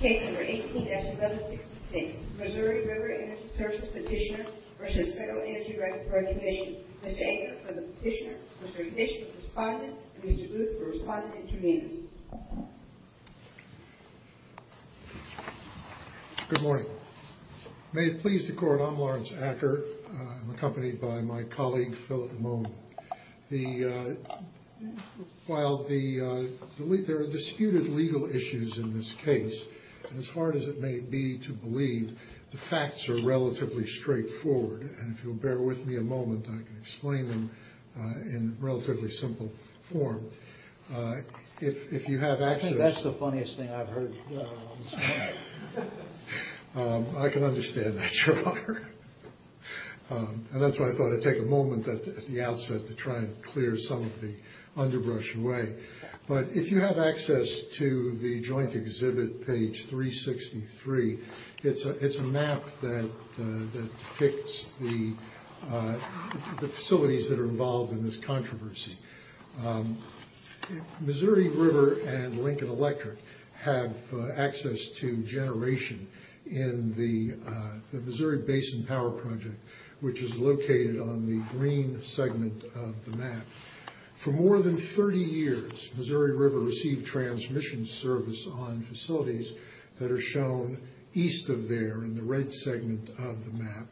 Case number 18-1166, Missouri River Energy Services Petitioners v. Federal Energy Regulatory Commission. Mr. Acker for the petitioner, Mr. Fischer for the respondent, and Mr. Booth for the respondent intervenors. Good morning. May it please the Court, I'm Lawrence Acker. I'm accompanied by my colleague, Philip DeMone. While there are disputed legal issues in this case, as hard as it may be to believe, the facts are relatively straightforward. And if you'll bear with me a moment, I can explain them in relatively simple form. I think that's the funniest thing I've heard on this panel. And that's why I thought I'd take a moment at the outset to try and clear some of the underbrush away. But if you have access to the Joint Exhibit page 363, it's a map that depicts the facilities that are involved in this controversy. Missouri River and Lincoln Electric have access to generation in the Missouri Basin Power Project, which is located on the green segment of the map. For more than 30 years, Missouri River received transmission service on facilities that are shown east of there, in the red segment of the map,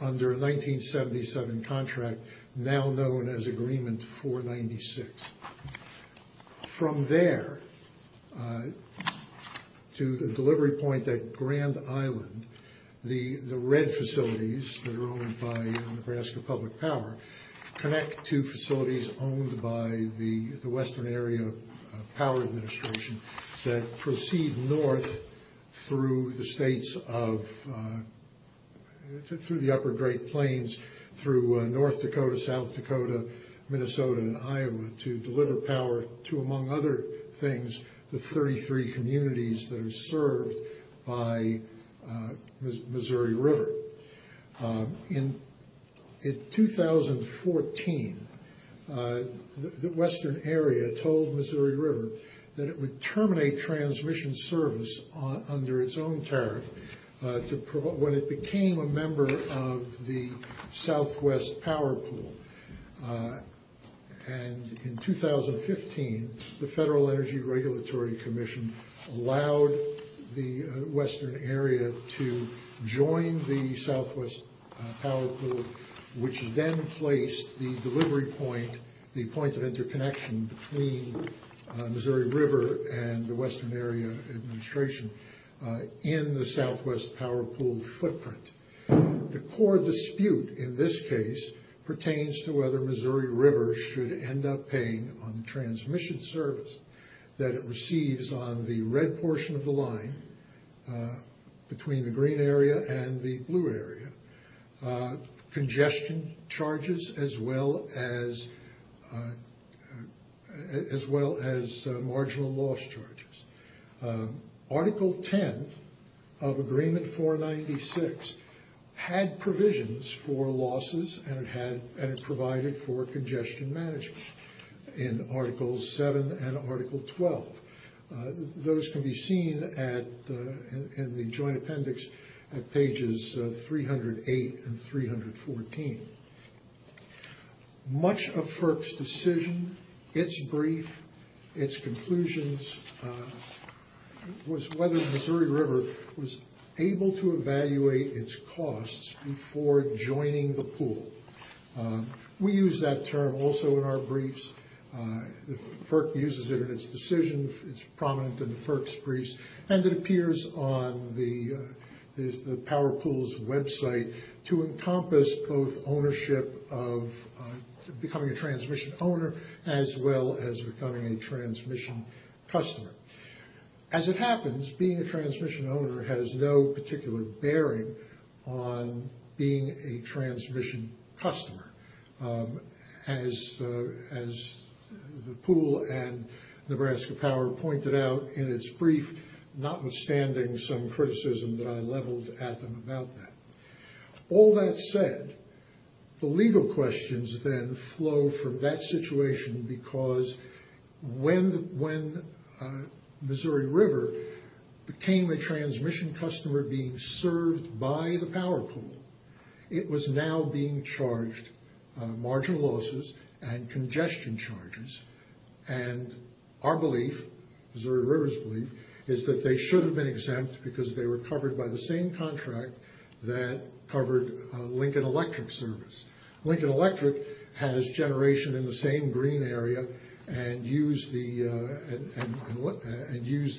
under a 1977 contract now known as Agreement 496. From there, to the delivery point at Grand Island, the red facilities that are owned by Nebraska Public Power connect to facilities owned by the Western Area Power Administration that proceed north through the states of, through the upper Great Plains, through North Dakota, South Dakota, Minnesota, and Iowa, to deliver power to, among other things, the 33 communities that are served by Missouri River. In 2014, the Western Area told Missouri River that it would terminate transmission service under its own tariff when it became a member of the Southwest Power Pool. And in 2015, the Federal Energy Regulatory Commission allowed the Western Area to join the Southwest Power Pool, which then placed the delivery point, the point of interconnection between Missouri River and the Western Area Administration, in the Southwest Power Pool footprint. The core dispute in this case pertains to whether Missouri River should end up paying on the transmission service that it receives on the red portion of the line, between the green area and the blue area, congestion charges as well as marginal loss charges. Article 10 of Agreement 496 had provisions for losses and it provided for congestion management in Articles 7 and Article 12. Those can be seen in the Joint Appendix at pages 308 and 314. Much of FERC's decision, its brief, its conclusions, was whether Missouri River was able to evaluate its costs before joining the pool. We use that term also in our briefs. FERC uses it in its decision, it's prominent in the FERC's briefs, and it appears on the Power Pool's website to encompass both ownership of becoming a transmission owner as well as becoming a transmission customer. As it happens, being a transmission owner has no particular bearing on being a transmission customer. As the pool and Nebraska Power pointed out in its brief, notwithstanding some criticism that I leveled at them about that. All that said, the legal questions then flow from that situation because when Missouri River became a transmission customer being served by the Power Pool, it was now being charged marginal losses and congestion charges. Our belief, Missouri River's belief, is that they should have been exempt because they were covered by the same contract that covered Lincoln Electric's service. Lincoln Electric has generation in the same green area and used the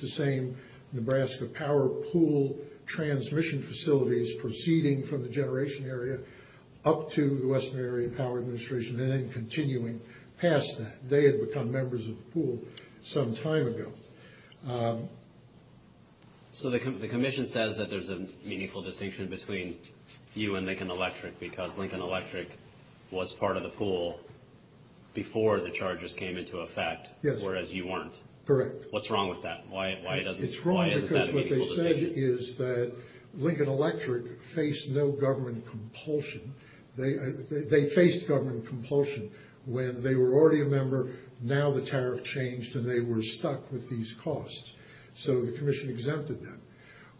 same Nebraska Power Pool transmission facilities proceeding from the generation area up to the Western Area Power Administration and then continuing past that. They had become members of the pool some time ago. So the Commission says that there's a meaningful distinction between you and Lincoln Electric because Lincoln Electric was part of the pool before the charges came into effect, whereas you weren't. Correct. What's wrong with that? It's wrong because what they said is that Lincoln Electric faced no government compulsion. They faced government compulsion when they were already a member, now the tariff changed and they were stuck with these costs. So the Commission exempted them.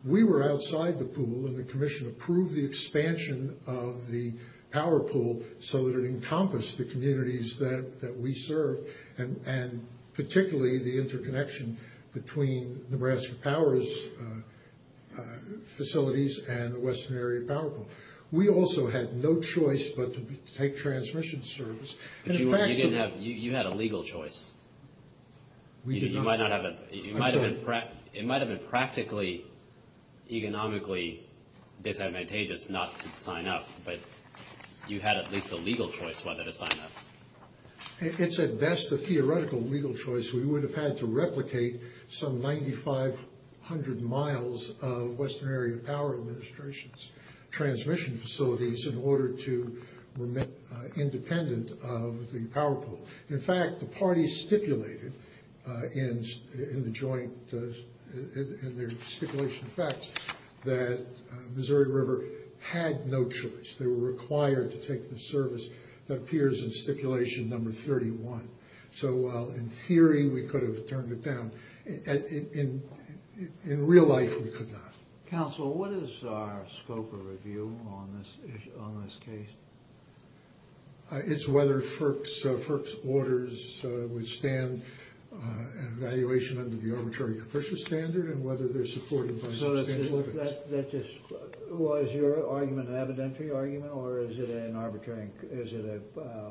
We were outside the pool and the Commission approved the expansion of the Power Pool so that it encompassed the communities that we serve and particularly the interconnection between Nebraska Power's facilities and the Western Area Power Pool. We also had no choice but to take transmission service. You had a legal choice. We did not. It might have been practically economically disadvantageous not to sign up, but you had at least a legal choice whether to sign up. It's at best a theoretical legal choice. We would have had to replicate some 9,500 miles of Western Area Power Administration's transmission facilities in order to remain independent of the Power Pool. In fact, the parties stipulated in their joint stipulation facts that Missouri River had no choice. They were required to take the service that appears in stipulation number 31. So while in theory we could have turned it down, in real life we could not. Counsel, what is our scope of review on this case? It's whether FERC's orders withstand evaluation under the Arbitrary Capricious Standard and whether they're supported by substantial limits. Was your argument an evidentiary argument or is it a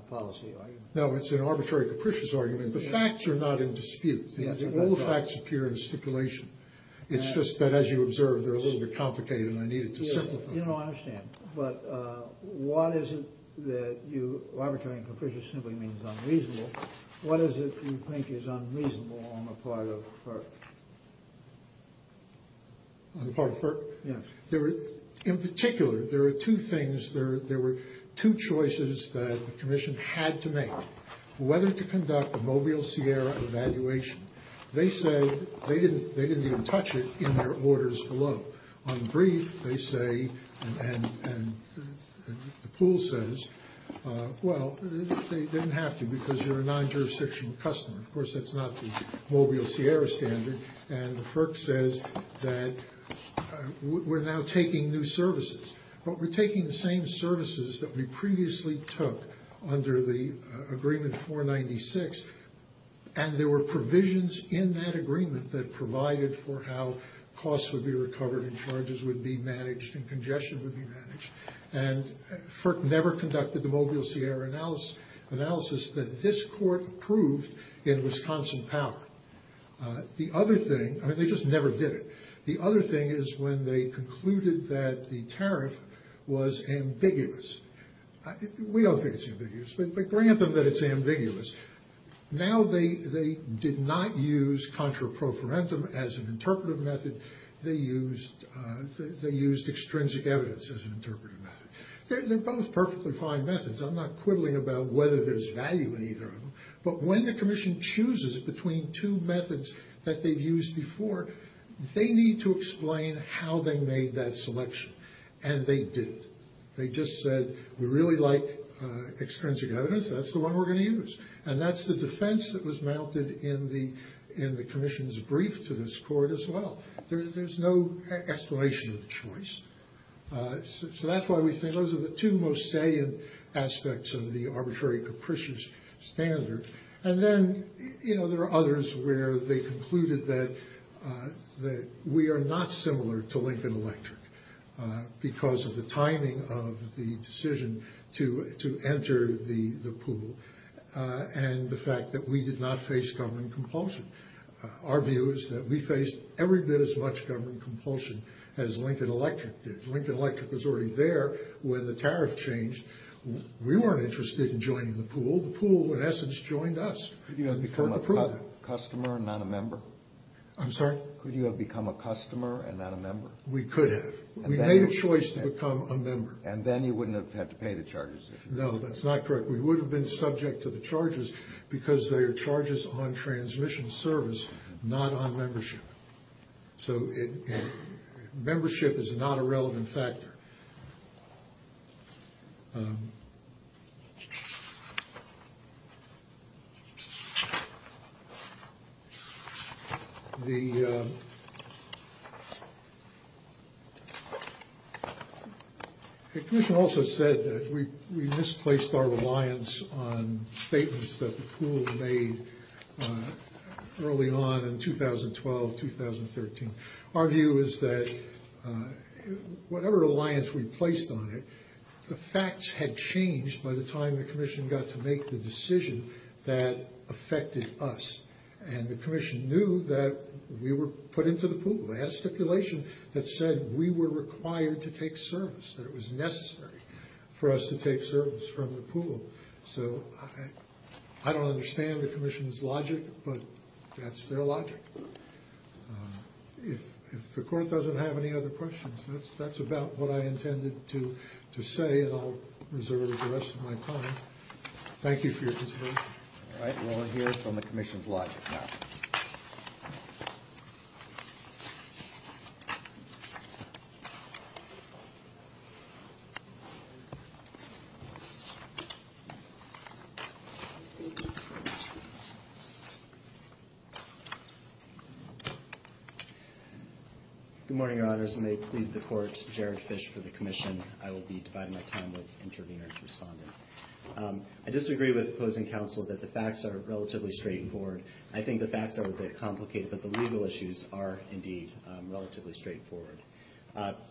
policy argument? No, it's an Arbitrary Capricious Argument. The facts are not in dispute. All the facts appear in stipulation. It's just that, as you observe, they're a little bit complicated and I needed to simplify them. I didn't understand, but what is it that you, Arbitrary Capricious simply means unreasonable. What is it that you think is unreasonable on the part of FERC? On the part of FERC? Yes. In particular, there are two things, there were two choices that the Commission had to make. Whether to conduct a Mobile Sierra evaluation. They said they didn't even touch it in their orders below. On the brief, they say, and the pool says, well, they didn't have to because you're a non-jurisdictional customer. Of course, that's not the Mobile Sierra standard. And the FERC says that we're now taking new services. But we're taking the same services that we previously took under the agreement 496. And there were provisions in that agreement that provided for how costs would be recovered and charges would be managed and congestion would be managed. And FERC never conducted the Mobile Sierra analysis that this court approved in Wisconsin power. The other thing, I mean, they just never did it. The other thing is when they concluded that the tariff was ambiguous. We don't think it's ambiguous, but grant them that it's ambiguous. Now they did not use contra pro forentum as an interpretive method. They used extrinsic evidence as an interpretive method. They're both perfectly fine methods. I'm not quibbling about whether there's value in either of them. But when the Commission chooses between two methods that they've used before, they need to explain how they made that selection. And they did. They just said, we really like extrinsic evidence. That's the one we're going to use. And that's the defense that was mounted in the Commission's brief to this court as well. There's no explanation of the choice. So that's why we think those are the two most salient aspects of the arbitrary capricious standard. And then, you know, there are others where they concluded that we are not similar to Lincoln Electric because of the timing of the decision to enter the pool and the fact that we did not face government compulsion. Our view is that we faced every bit as much government compulsion as Lincoln Electric did. Lincoln Electric was already there when the tariff changed. We weren't interested in joining the pool. The pool, in essence, joined us. Could you have become a customer and not a member? I'm sorry? Could you have become a customer and not a member? We could have. We made a choice to become a member. And then you wouldn't have had to pay the charges. No, that's not correct. We would have been subject to the charges because they are charges on transmission service, not on membership. So membership is not a relevant factor. The commission also said that we misplaced our reliance on statements that the pool made early on in 2012, 2013. Our view is that whatever reliance we placed on it, the facts had changed by the time the commission got to make the decision that affected us. And the commission knew that we were put into the pool. They had a stipulation that said we were required to take service, that it was necessary for us to take service from the pool. So I don't understand the commission's logic, but that's their logic. If the court doesn't have any other questions, that's about what I intended to say, and I'll reserve the rest of my time. Thank you for your consideration. All right. We'll hear from the commission's logic now. Good morning, Your Honors. And may it please the court, Jared Fish for the commission. I will be dividing my time with intervener and respondent. I disagree with opposing counsel that the facts are relatively straightforward. I think the facts are a bit complicated, but the legal issues are indeed relatively straightforward.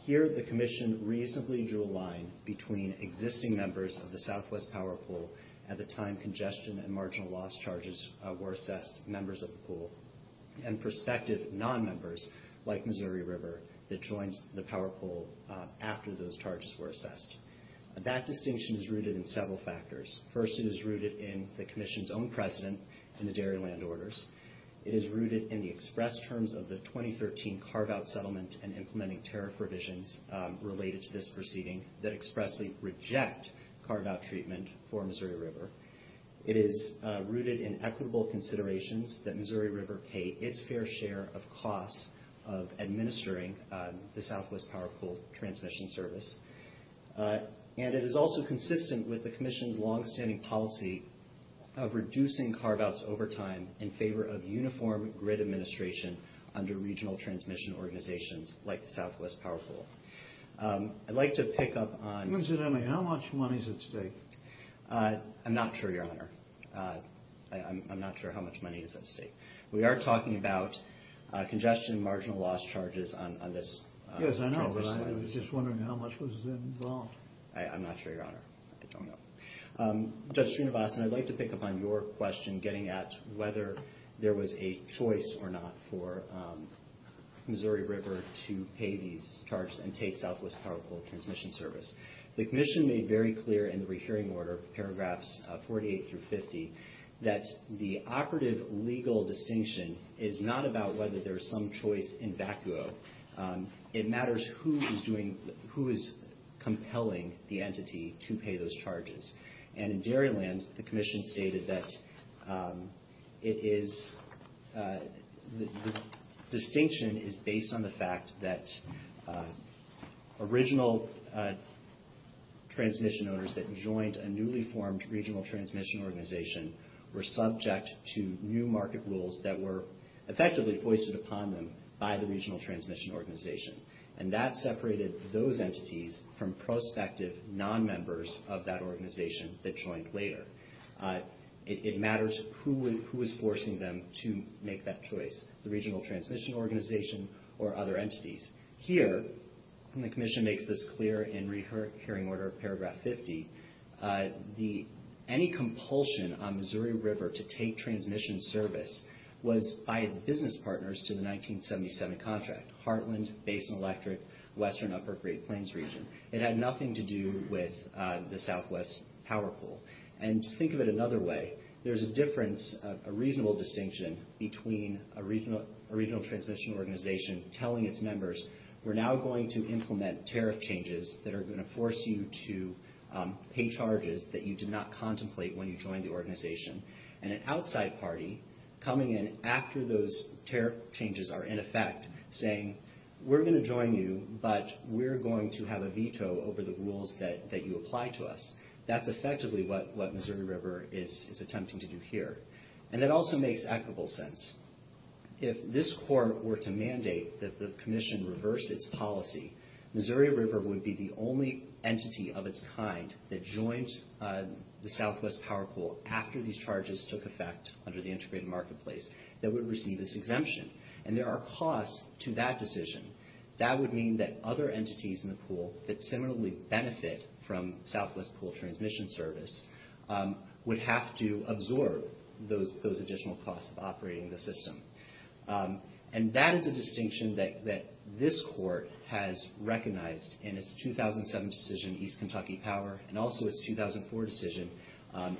Here, the commission reasonably drew a line between existing members of the Southwest Power Pool at the time congestion and marginal loss charges were assessed, members of the pool, and prospective non-members like Missouri River that joined the Power Pool after those charges were assessed. That distinction is rooted in several factors. First, it is rooted in the commission's own precedent in the dairy land orders. It is rooted in the express terms of the 2013 carve-out settlement and implementing tariff revisions related to this proceeding that expressly reject carve-out treatment for Missouri River. It is rooted in equitable considerations that Missouri River pay its fair share of costs of administering the Southwest Power Pool transmission service. And it is also consistent with the commission's longstanding policy of reducing carve-outs over time in favor of uniform grid administration under regional transmission organizations like the Southwest Power Pool. I'd like to pick up on... Incidentally, how much money is at stake? I'm not sure, Your Honor. I'm not sure how much money is at stake. We are talking about congestion and marginal loss charges on this... Yes, I know, but I was just wondering how much was involved. I'm not sure, Your Honor. I don't know. Judge Strunivasan, I'd like to pick up on your question getting at whether there was a choice or not for Missouri River to pay these charges and take Southwest Power Pool transmission service. The commission made very clear in the rehearing order, paragraphs 48 through 50, that the operative legal distinction is not about whether there is some choice in vacuo. It matters who is doing... who is compelling the entity to pay those charges. And in Dairyland, the commission stated that it is... the distinction is based on the fact that original transmission owners that joined a newly formed regional transmission organization were subject to new market rules that were effectively foisted upon them by the regional transmission organization. And that separated those entities from prospective non-members of that organization that joined later. It matters who is forcing them to make that choice, the regional transmission organization or other entities. Here, and the commission makes this clear in rehearing order paragraph 50, any compulsion on Missouri River to take transmission service was by its business partners to the 1977 contract. Heartland, Basin Electric, Western Upper Great Plains region. It had nothing to do with the Southwest Power Pool. And think of it another way. There's a difference, a reasonable distinction, between a regional transmission organization telling its members, we're now going to implement tariff changes that are going to force you to pay charges that you did not contemplate when you joined the organization, and an outside party coming in after those tariff changes are in effect saying, we're going to join you, but we're going to have a veto over the rules that you apply to us. That's effectively what Missouri River is attempting to do here. And that also makes equitable sense. If this court were to mandate that the commission reverse its policy, Missouri River would be the only entity of its kind that joined the Southwest Power Pool after these charges took effect under the integrated marketplace that would receive this exemption. And there are costs to that decision. That would mean that other entities in the pool that similarly benefit from Southwest Pool Transmission Service would have to absorb those additional costs of operating the system. And that is a distinction that this court has recognized in its 2007 decision, East Kentucky Power, and also its 2004 decision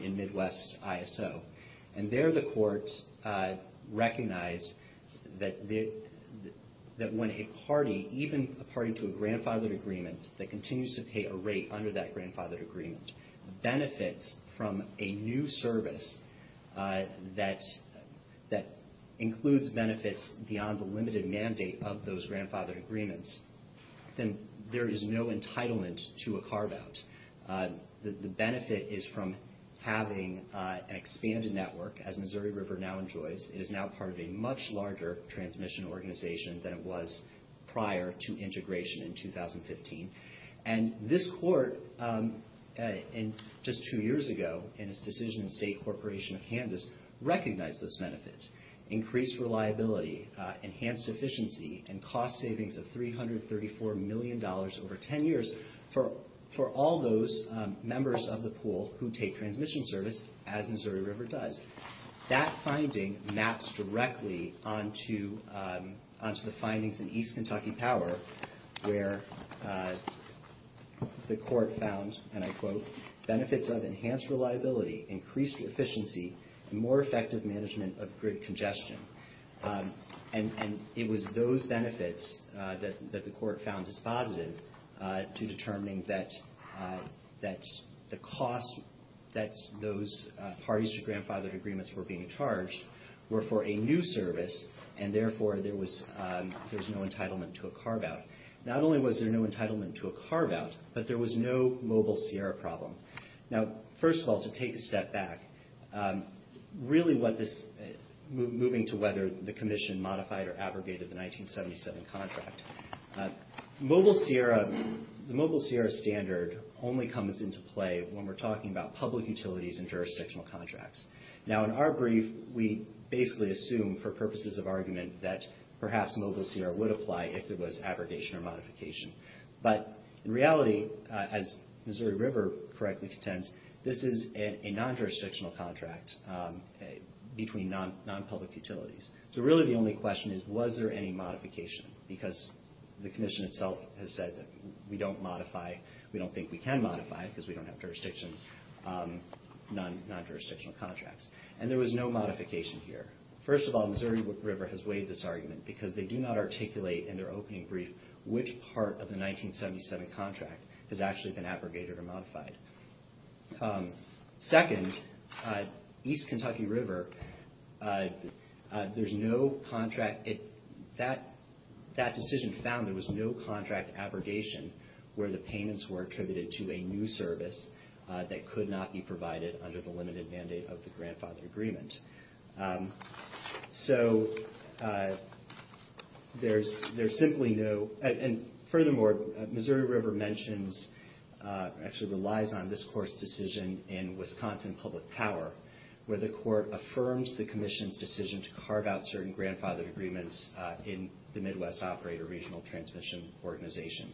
in Midwest ISO. And there the court recognized that when a party, even a party to a grandfathered agreement, that continues to pay a rate under that grandfathered agreement, benefits from a new service that includes benefits beyond the limited mandate of those grandfathered agreements, then there is no entitlement to a carve-out. The benefit is from having an expanded network, as Missouri River now enjoys. It is now part of a much larger transmission organization than it was prior to integration in 2015. And this court, just two years ago, in its decision in State Corporation of Kansas, recognized those benefits. Increased reliability, enhanced efficiency, and cost savings of $334 million over 10 years for all those members of the pool who take transmission service, as Missouri River does. That finding maps directly onto the findings in East Kentucky Power, where the court found, and I quote, benefits of enhanced reliability, increased efficiency, and more effective management of grid congestion. And it was those benefits that the court found dispositive to determining that the cost that those parties to grandfathered agreements were being charged were for a new service, and therefore there was no entitlement to a carve-out. Not only was there no entitlement to a carve-out, but there was no mobile Sierra problem. Now, first of all, to take a step back, really what this, moving to whether the commission modified or abrogated the 1977 contract, mobile Sierra, the mobile Sierra standard only comes into play when we're talking about public utilities and jurisdictional contracts. Now, in our brief, we basically assume, for purposes of argument, that perhaps mobile Sierra would apply if there was abrogation or modification. But in reality, as Missouri River correctly contends, this is a non-jurisdictional contract between non-public utilities. So really the only question is, was there any modification? Because the commission itself has said that we don't modify, we don't think we can modify, because we don't have jurisdiction, non-jurisdictional contracts. And there was no modification here. First of all, Missouri River has waived this argument because they do not articulate in their opening brief which part of the 1977 contract has actually been abrogated or modified. Second, East Kentucky River, there's no contract. That decision found there was no contract abrogation where the payments were attributed to a new service that could not be provided under the limited mandate of the grandfather agreement. So there's simply no... And furthermore, Missouri River mentions, actually relies on this court's decision in Wisconsin Public Power, where the court affirmed the commission's decision to carve out certain grandfather agreements in the Midwest Operator Regional Transmission Organization.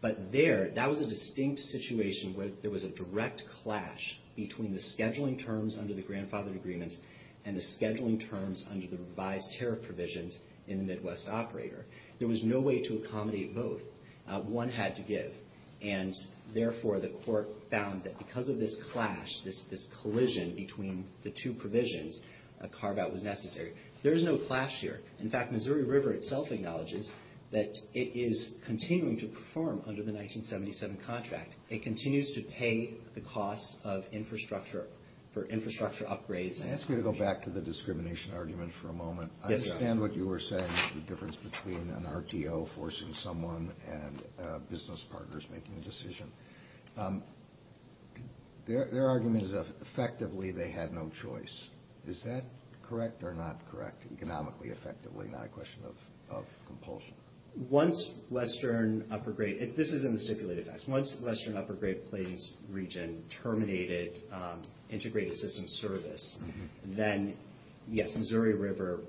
But there, that was a distinct situation where there was a direct clash between the scheduling terms under the grandfather agreements and the scheduling terms under the revised tariff provisions in the Midwest Operator. There was no way to accommodate both. One had to give. And therefore, the court found that because of this clash, this collision between the two provisions, a carve-out was necessary. There is no clash here. In fact, Missouri River itself acknowledges that it is continuing to perform under the 1977 contract. It continues to pay the costs of infrastructure for infrastructure upgrades. Let me ask you to go back to the discrimination argument for a moment. I understand what you were saying, the difference between an RTO forcing someone and business partners making a decision. Their argument is effectively they had no choice. Is that correct or not correct? Economically, effectively, not a question of compulsion. Once Western Upper Great, this is in the stipulated facts. Once Western Upper Great Plains region terminated integrated system service, then, yes, Missouri River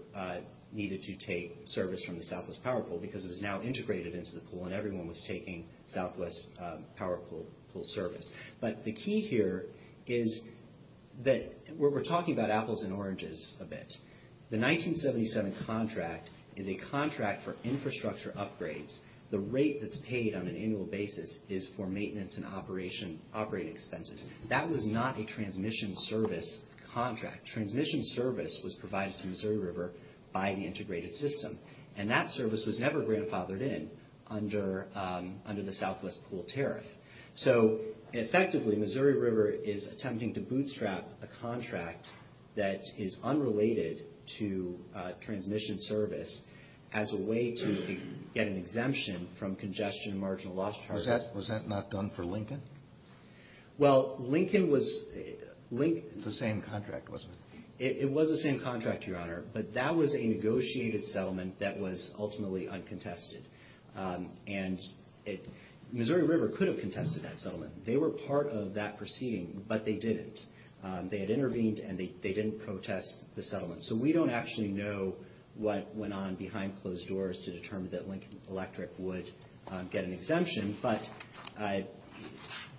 needed to take service from the Southwest Power Pool because it was now integrated into the pool and everyone was taking Southwest Power Pool service. But the key here is that we're talking about apples and oranges a bit. The 1977 contract is a contract for infrastructure upgrades. The rate that's paid on an annual basis is for maintenance and operating expenses. That was not a transmission service contract. Transmission service was provided to Missouri River by the integrated system. And that service was never grandfathered in under the Southwest Pool tariff. So, effectively, Missouri River is attempting to bootstrap a contract that is unrelated to transmission service as a way to get an exemption from congestion and marginal loss charges. Was that not done for Lincoln? Well, Lincoln was... The same contract, wasn't it? It was the same contract, Your Honor. But that was a negotiated settlement that was ultimately uncontested. And Missouri River could have contested that settlement. They were part of that proceeding, but they didn't. They had intervened and they didn't protest the settlement. So we don't actually know what went on behind closed doors to determine that Lincoln Electric would get an exemption. But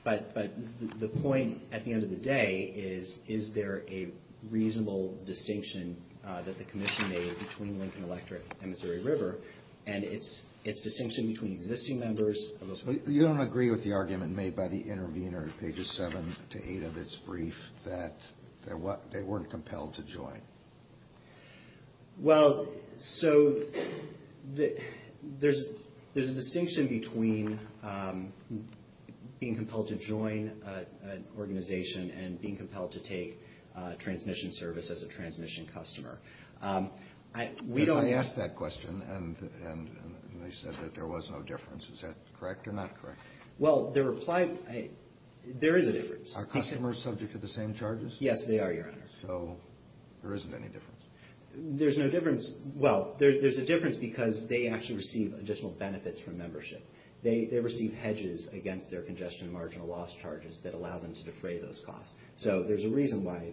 the point at the end of the day is, is there a reasonable distinction that the commission made between Lincoln Electric and Missouri River? And its distinction between existing members... So you don't agree with the argument made by the intervener in pages 7 to 8 of its brief that they weren't compelled to join? Well, so there's a distinction between being compelled to join an organization and being compelled to take transmission service as a transmission customer. Because I asked that question and they said that there was no difference. Is that correct or not correct? Well, their reply... There is a difference. Are customers subject to the same charges? Yes, they are, Your Honor. So there isn't any difference. There's no difference. Well, there's a difference because they actually receive additional benefits from membership. They receive hedges against their congestion and marginal loss charges that allow them to defray those costs. So there's a reason why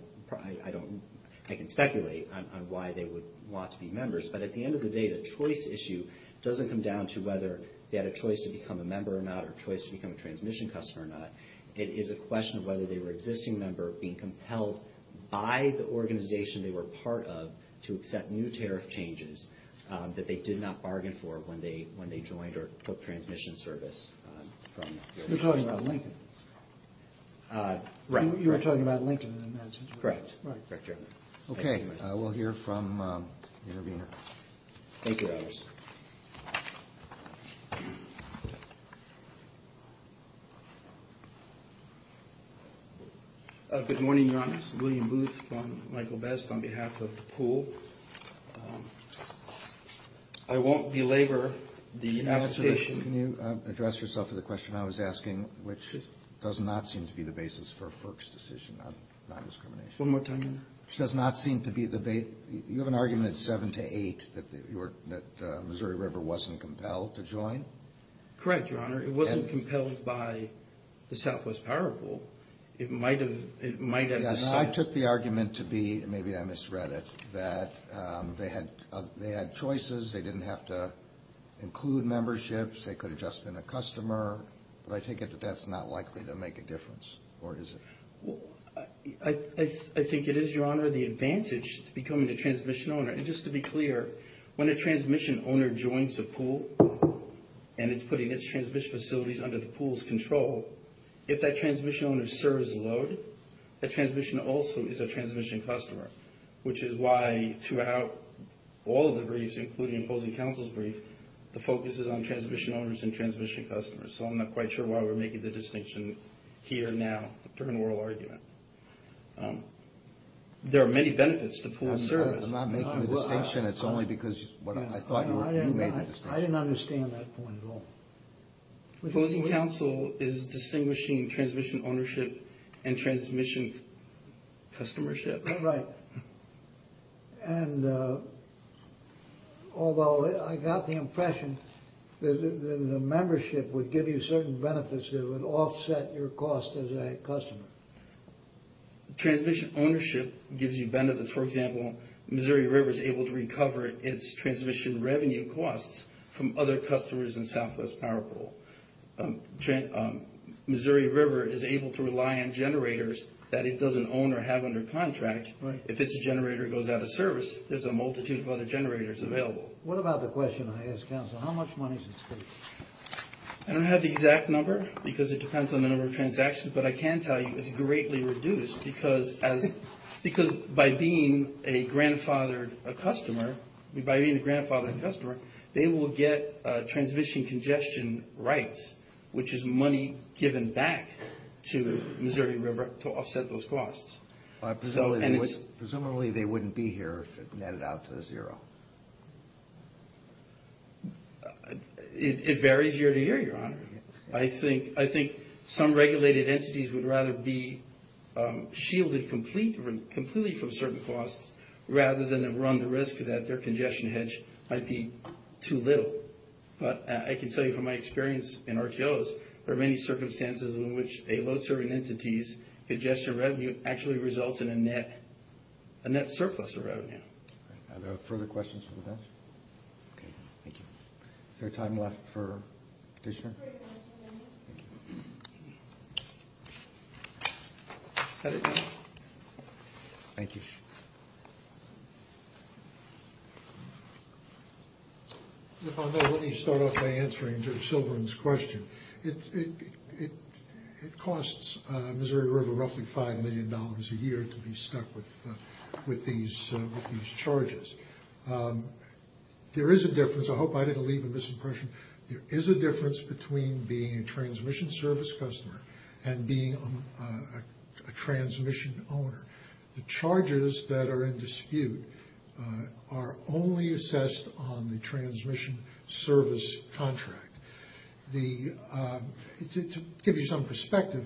I can speculate on why they would want to be members. But at the end of the day, the choice issue doesn't come down to whether they had a choice to become a member or not or a choice to become a transmission customer or not. It is a question of whether they were an existing member being compelled by the organization they were part of to accept new tariff changes that they did not bargain for when they joined or took transmission service. You're talking about Lincoln. Correct. Okay. We'll hear from the intervener. Thank you, Your Honor. Good morning, Your Honor. This is William Booth from Michael Best on behalf of the pool. I won't belabor the application. Can you address yourself to the question I was asking? Which does not seem to be the basis for FERC's decision on non-discrimination. One more time, Your Honor. Which does not seem to be the base. You have an argument at 7 to 8 that Missouri River wasn't compelled to join? Correct, Your Honor. It wasn't compelled by the Southwest Power Pool. It might have not. I took the argument to be, and maybe I misread it, that they had choices. They didn't have to include memberships. They could have just been a customer, but I take it that that's not likely to make a difference, or is it? I think it is, Your Honor, the advantage to becoming a transmission owner. And just to be clear, when a transmission owner joins a pool and it's putting its transmission facilities under the pool's control, if that transmission owner serves the load, that transmission also is a transmission customer, which is why throughout all of the briefs, including opposing counsel's brief, the focus is on transmission owners and transmission customers. So I'm not quite sure why we're making the distinction here, now, during oral argument. There are many benefits to pooling service. I'm not making the distinction. It's only because I thought you made the distinction. I didn't understand that point at all. Opposing counsel is distinguishing transmission ownership and transmission customership. Right. And although I got the impression that the membership would give you certain benefits that would offset your cost as a customer. Transmission ownership gives you benefits. For example, Missouri River is able to recover its transmission revenue costs from other customers in Southwest Power Pool. Missouri River is able to rely on generators that it doesn't own or have under contract. If its generator goes out of service, there's a multitude of other generators available. What about the question I asked counsel, how much money does it take? I don't have the exact number because it depends on the number of transactions, but I can tell you it's greatly reduced because by being a grandfathered customer, by being a grandfathered customer, they will get transmission congestion rights, which is money given back to Missouri River to offset those costs. Presumably they wouldn't be here if it netted out to zero. It varies year to year, Your Honor. I think some regulated entities would rather be shielded completely from certain costs rather than run the risk that their congestion hedge might be too little. But I can tell you from my experience in RTOs, there are many circumstances in which a load serving entity's congestion revenue actually results in a net surplus of revenue. Are there further questions for the judge? Okay, thank you. Is there time left for petitioner? Thank you. Thank you. If I may, let me start off by answering Judge Silverman's question. It costs Missouri River roughly $5 million a year to be stuck with these charges. There is a difference, I hope I didn't leave a misimpression, there is a difference between being a transmission service customer and being a transmission owner. The charges that are in dispute are only assessed on the transmission service contract. To give you some perspective,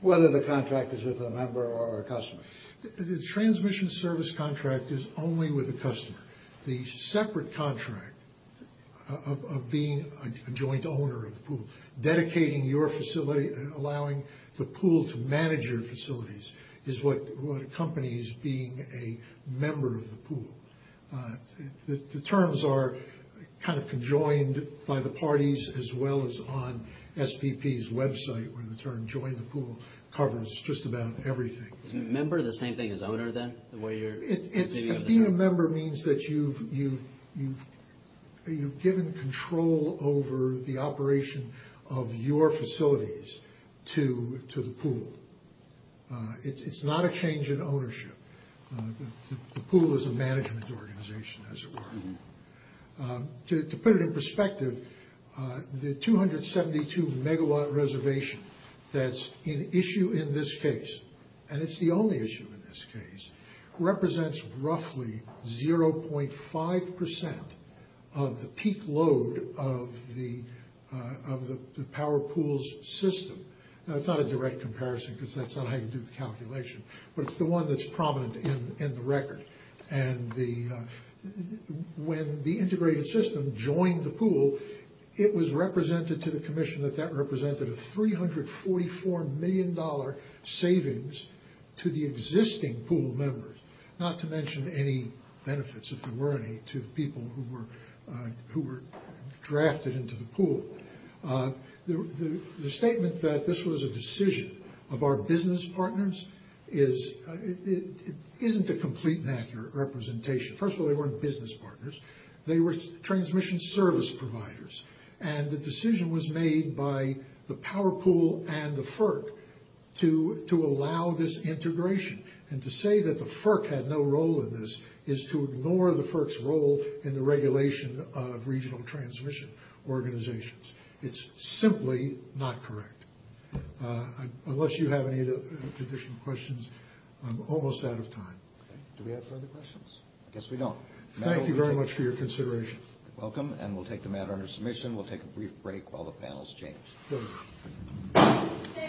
whether the contract is with a member or a customer? The transmission service contract is only with a customer. The separate contract of being a joint owner of the pool, dedicating your facility, allowing the pool to manage your facilities, is what accompanies being a member of the pool. The terms are kind of conjoined by the parties as well as on SPP's website, where the term join the pool covers just about everything. Is a member the same thing as owner then? Being a member means that you've given control over the operation of your facilities to the pool. It's not a change in ownership. The pool is a management organization as it were. To put it in perspective, the 272 megawatt reservation that's an issue in this case, and it's the only issue in this case, represents roughly 0.5% of the peak load of the power pool's system. That's not a direct comparison because that's not how you do the calculation, but it's the one that's prominent in the record. When the integrated system joined the pool, it was represented to the commission that that represented a $344 million savings to the existing pool members, not to mention any benefits, if there were any, to people who were drafted into the pool. The statement that this was a decision of our business partners isn't a complete and accurate representation. First of all, they weren't business partners. They were transmission service providers, and the decision was made by the power pool and the FERC to allow this integration, and to say that the FERC had no role in this is to ignore the FERC's role in the regulation of regional transmission organizations. It's simply not correct. Unless you have any additional questions, I'm almost out of time. Do we have further questions? I guess we don't. Thank you very much for your consideration. You're welcome, and we'll take the matter under submission. We'll take a brief break while the panels change. Good.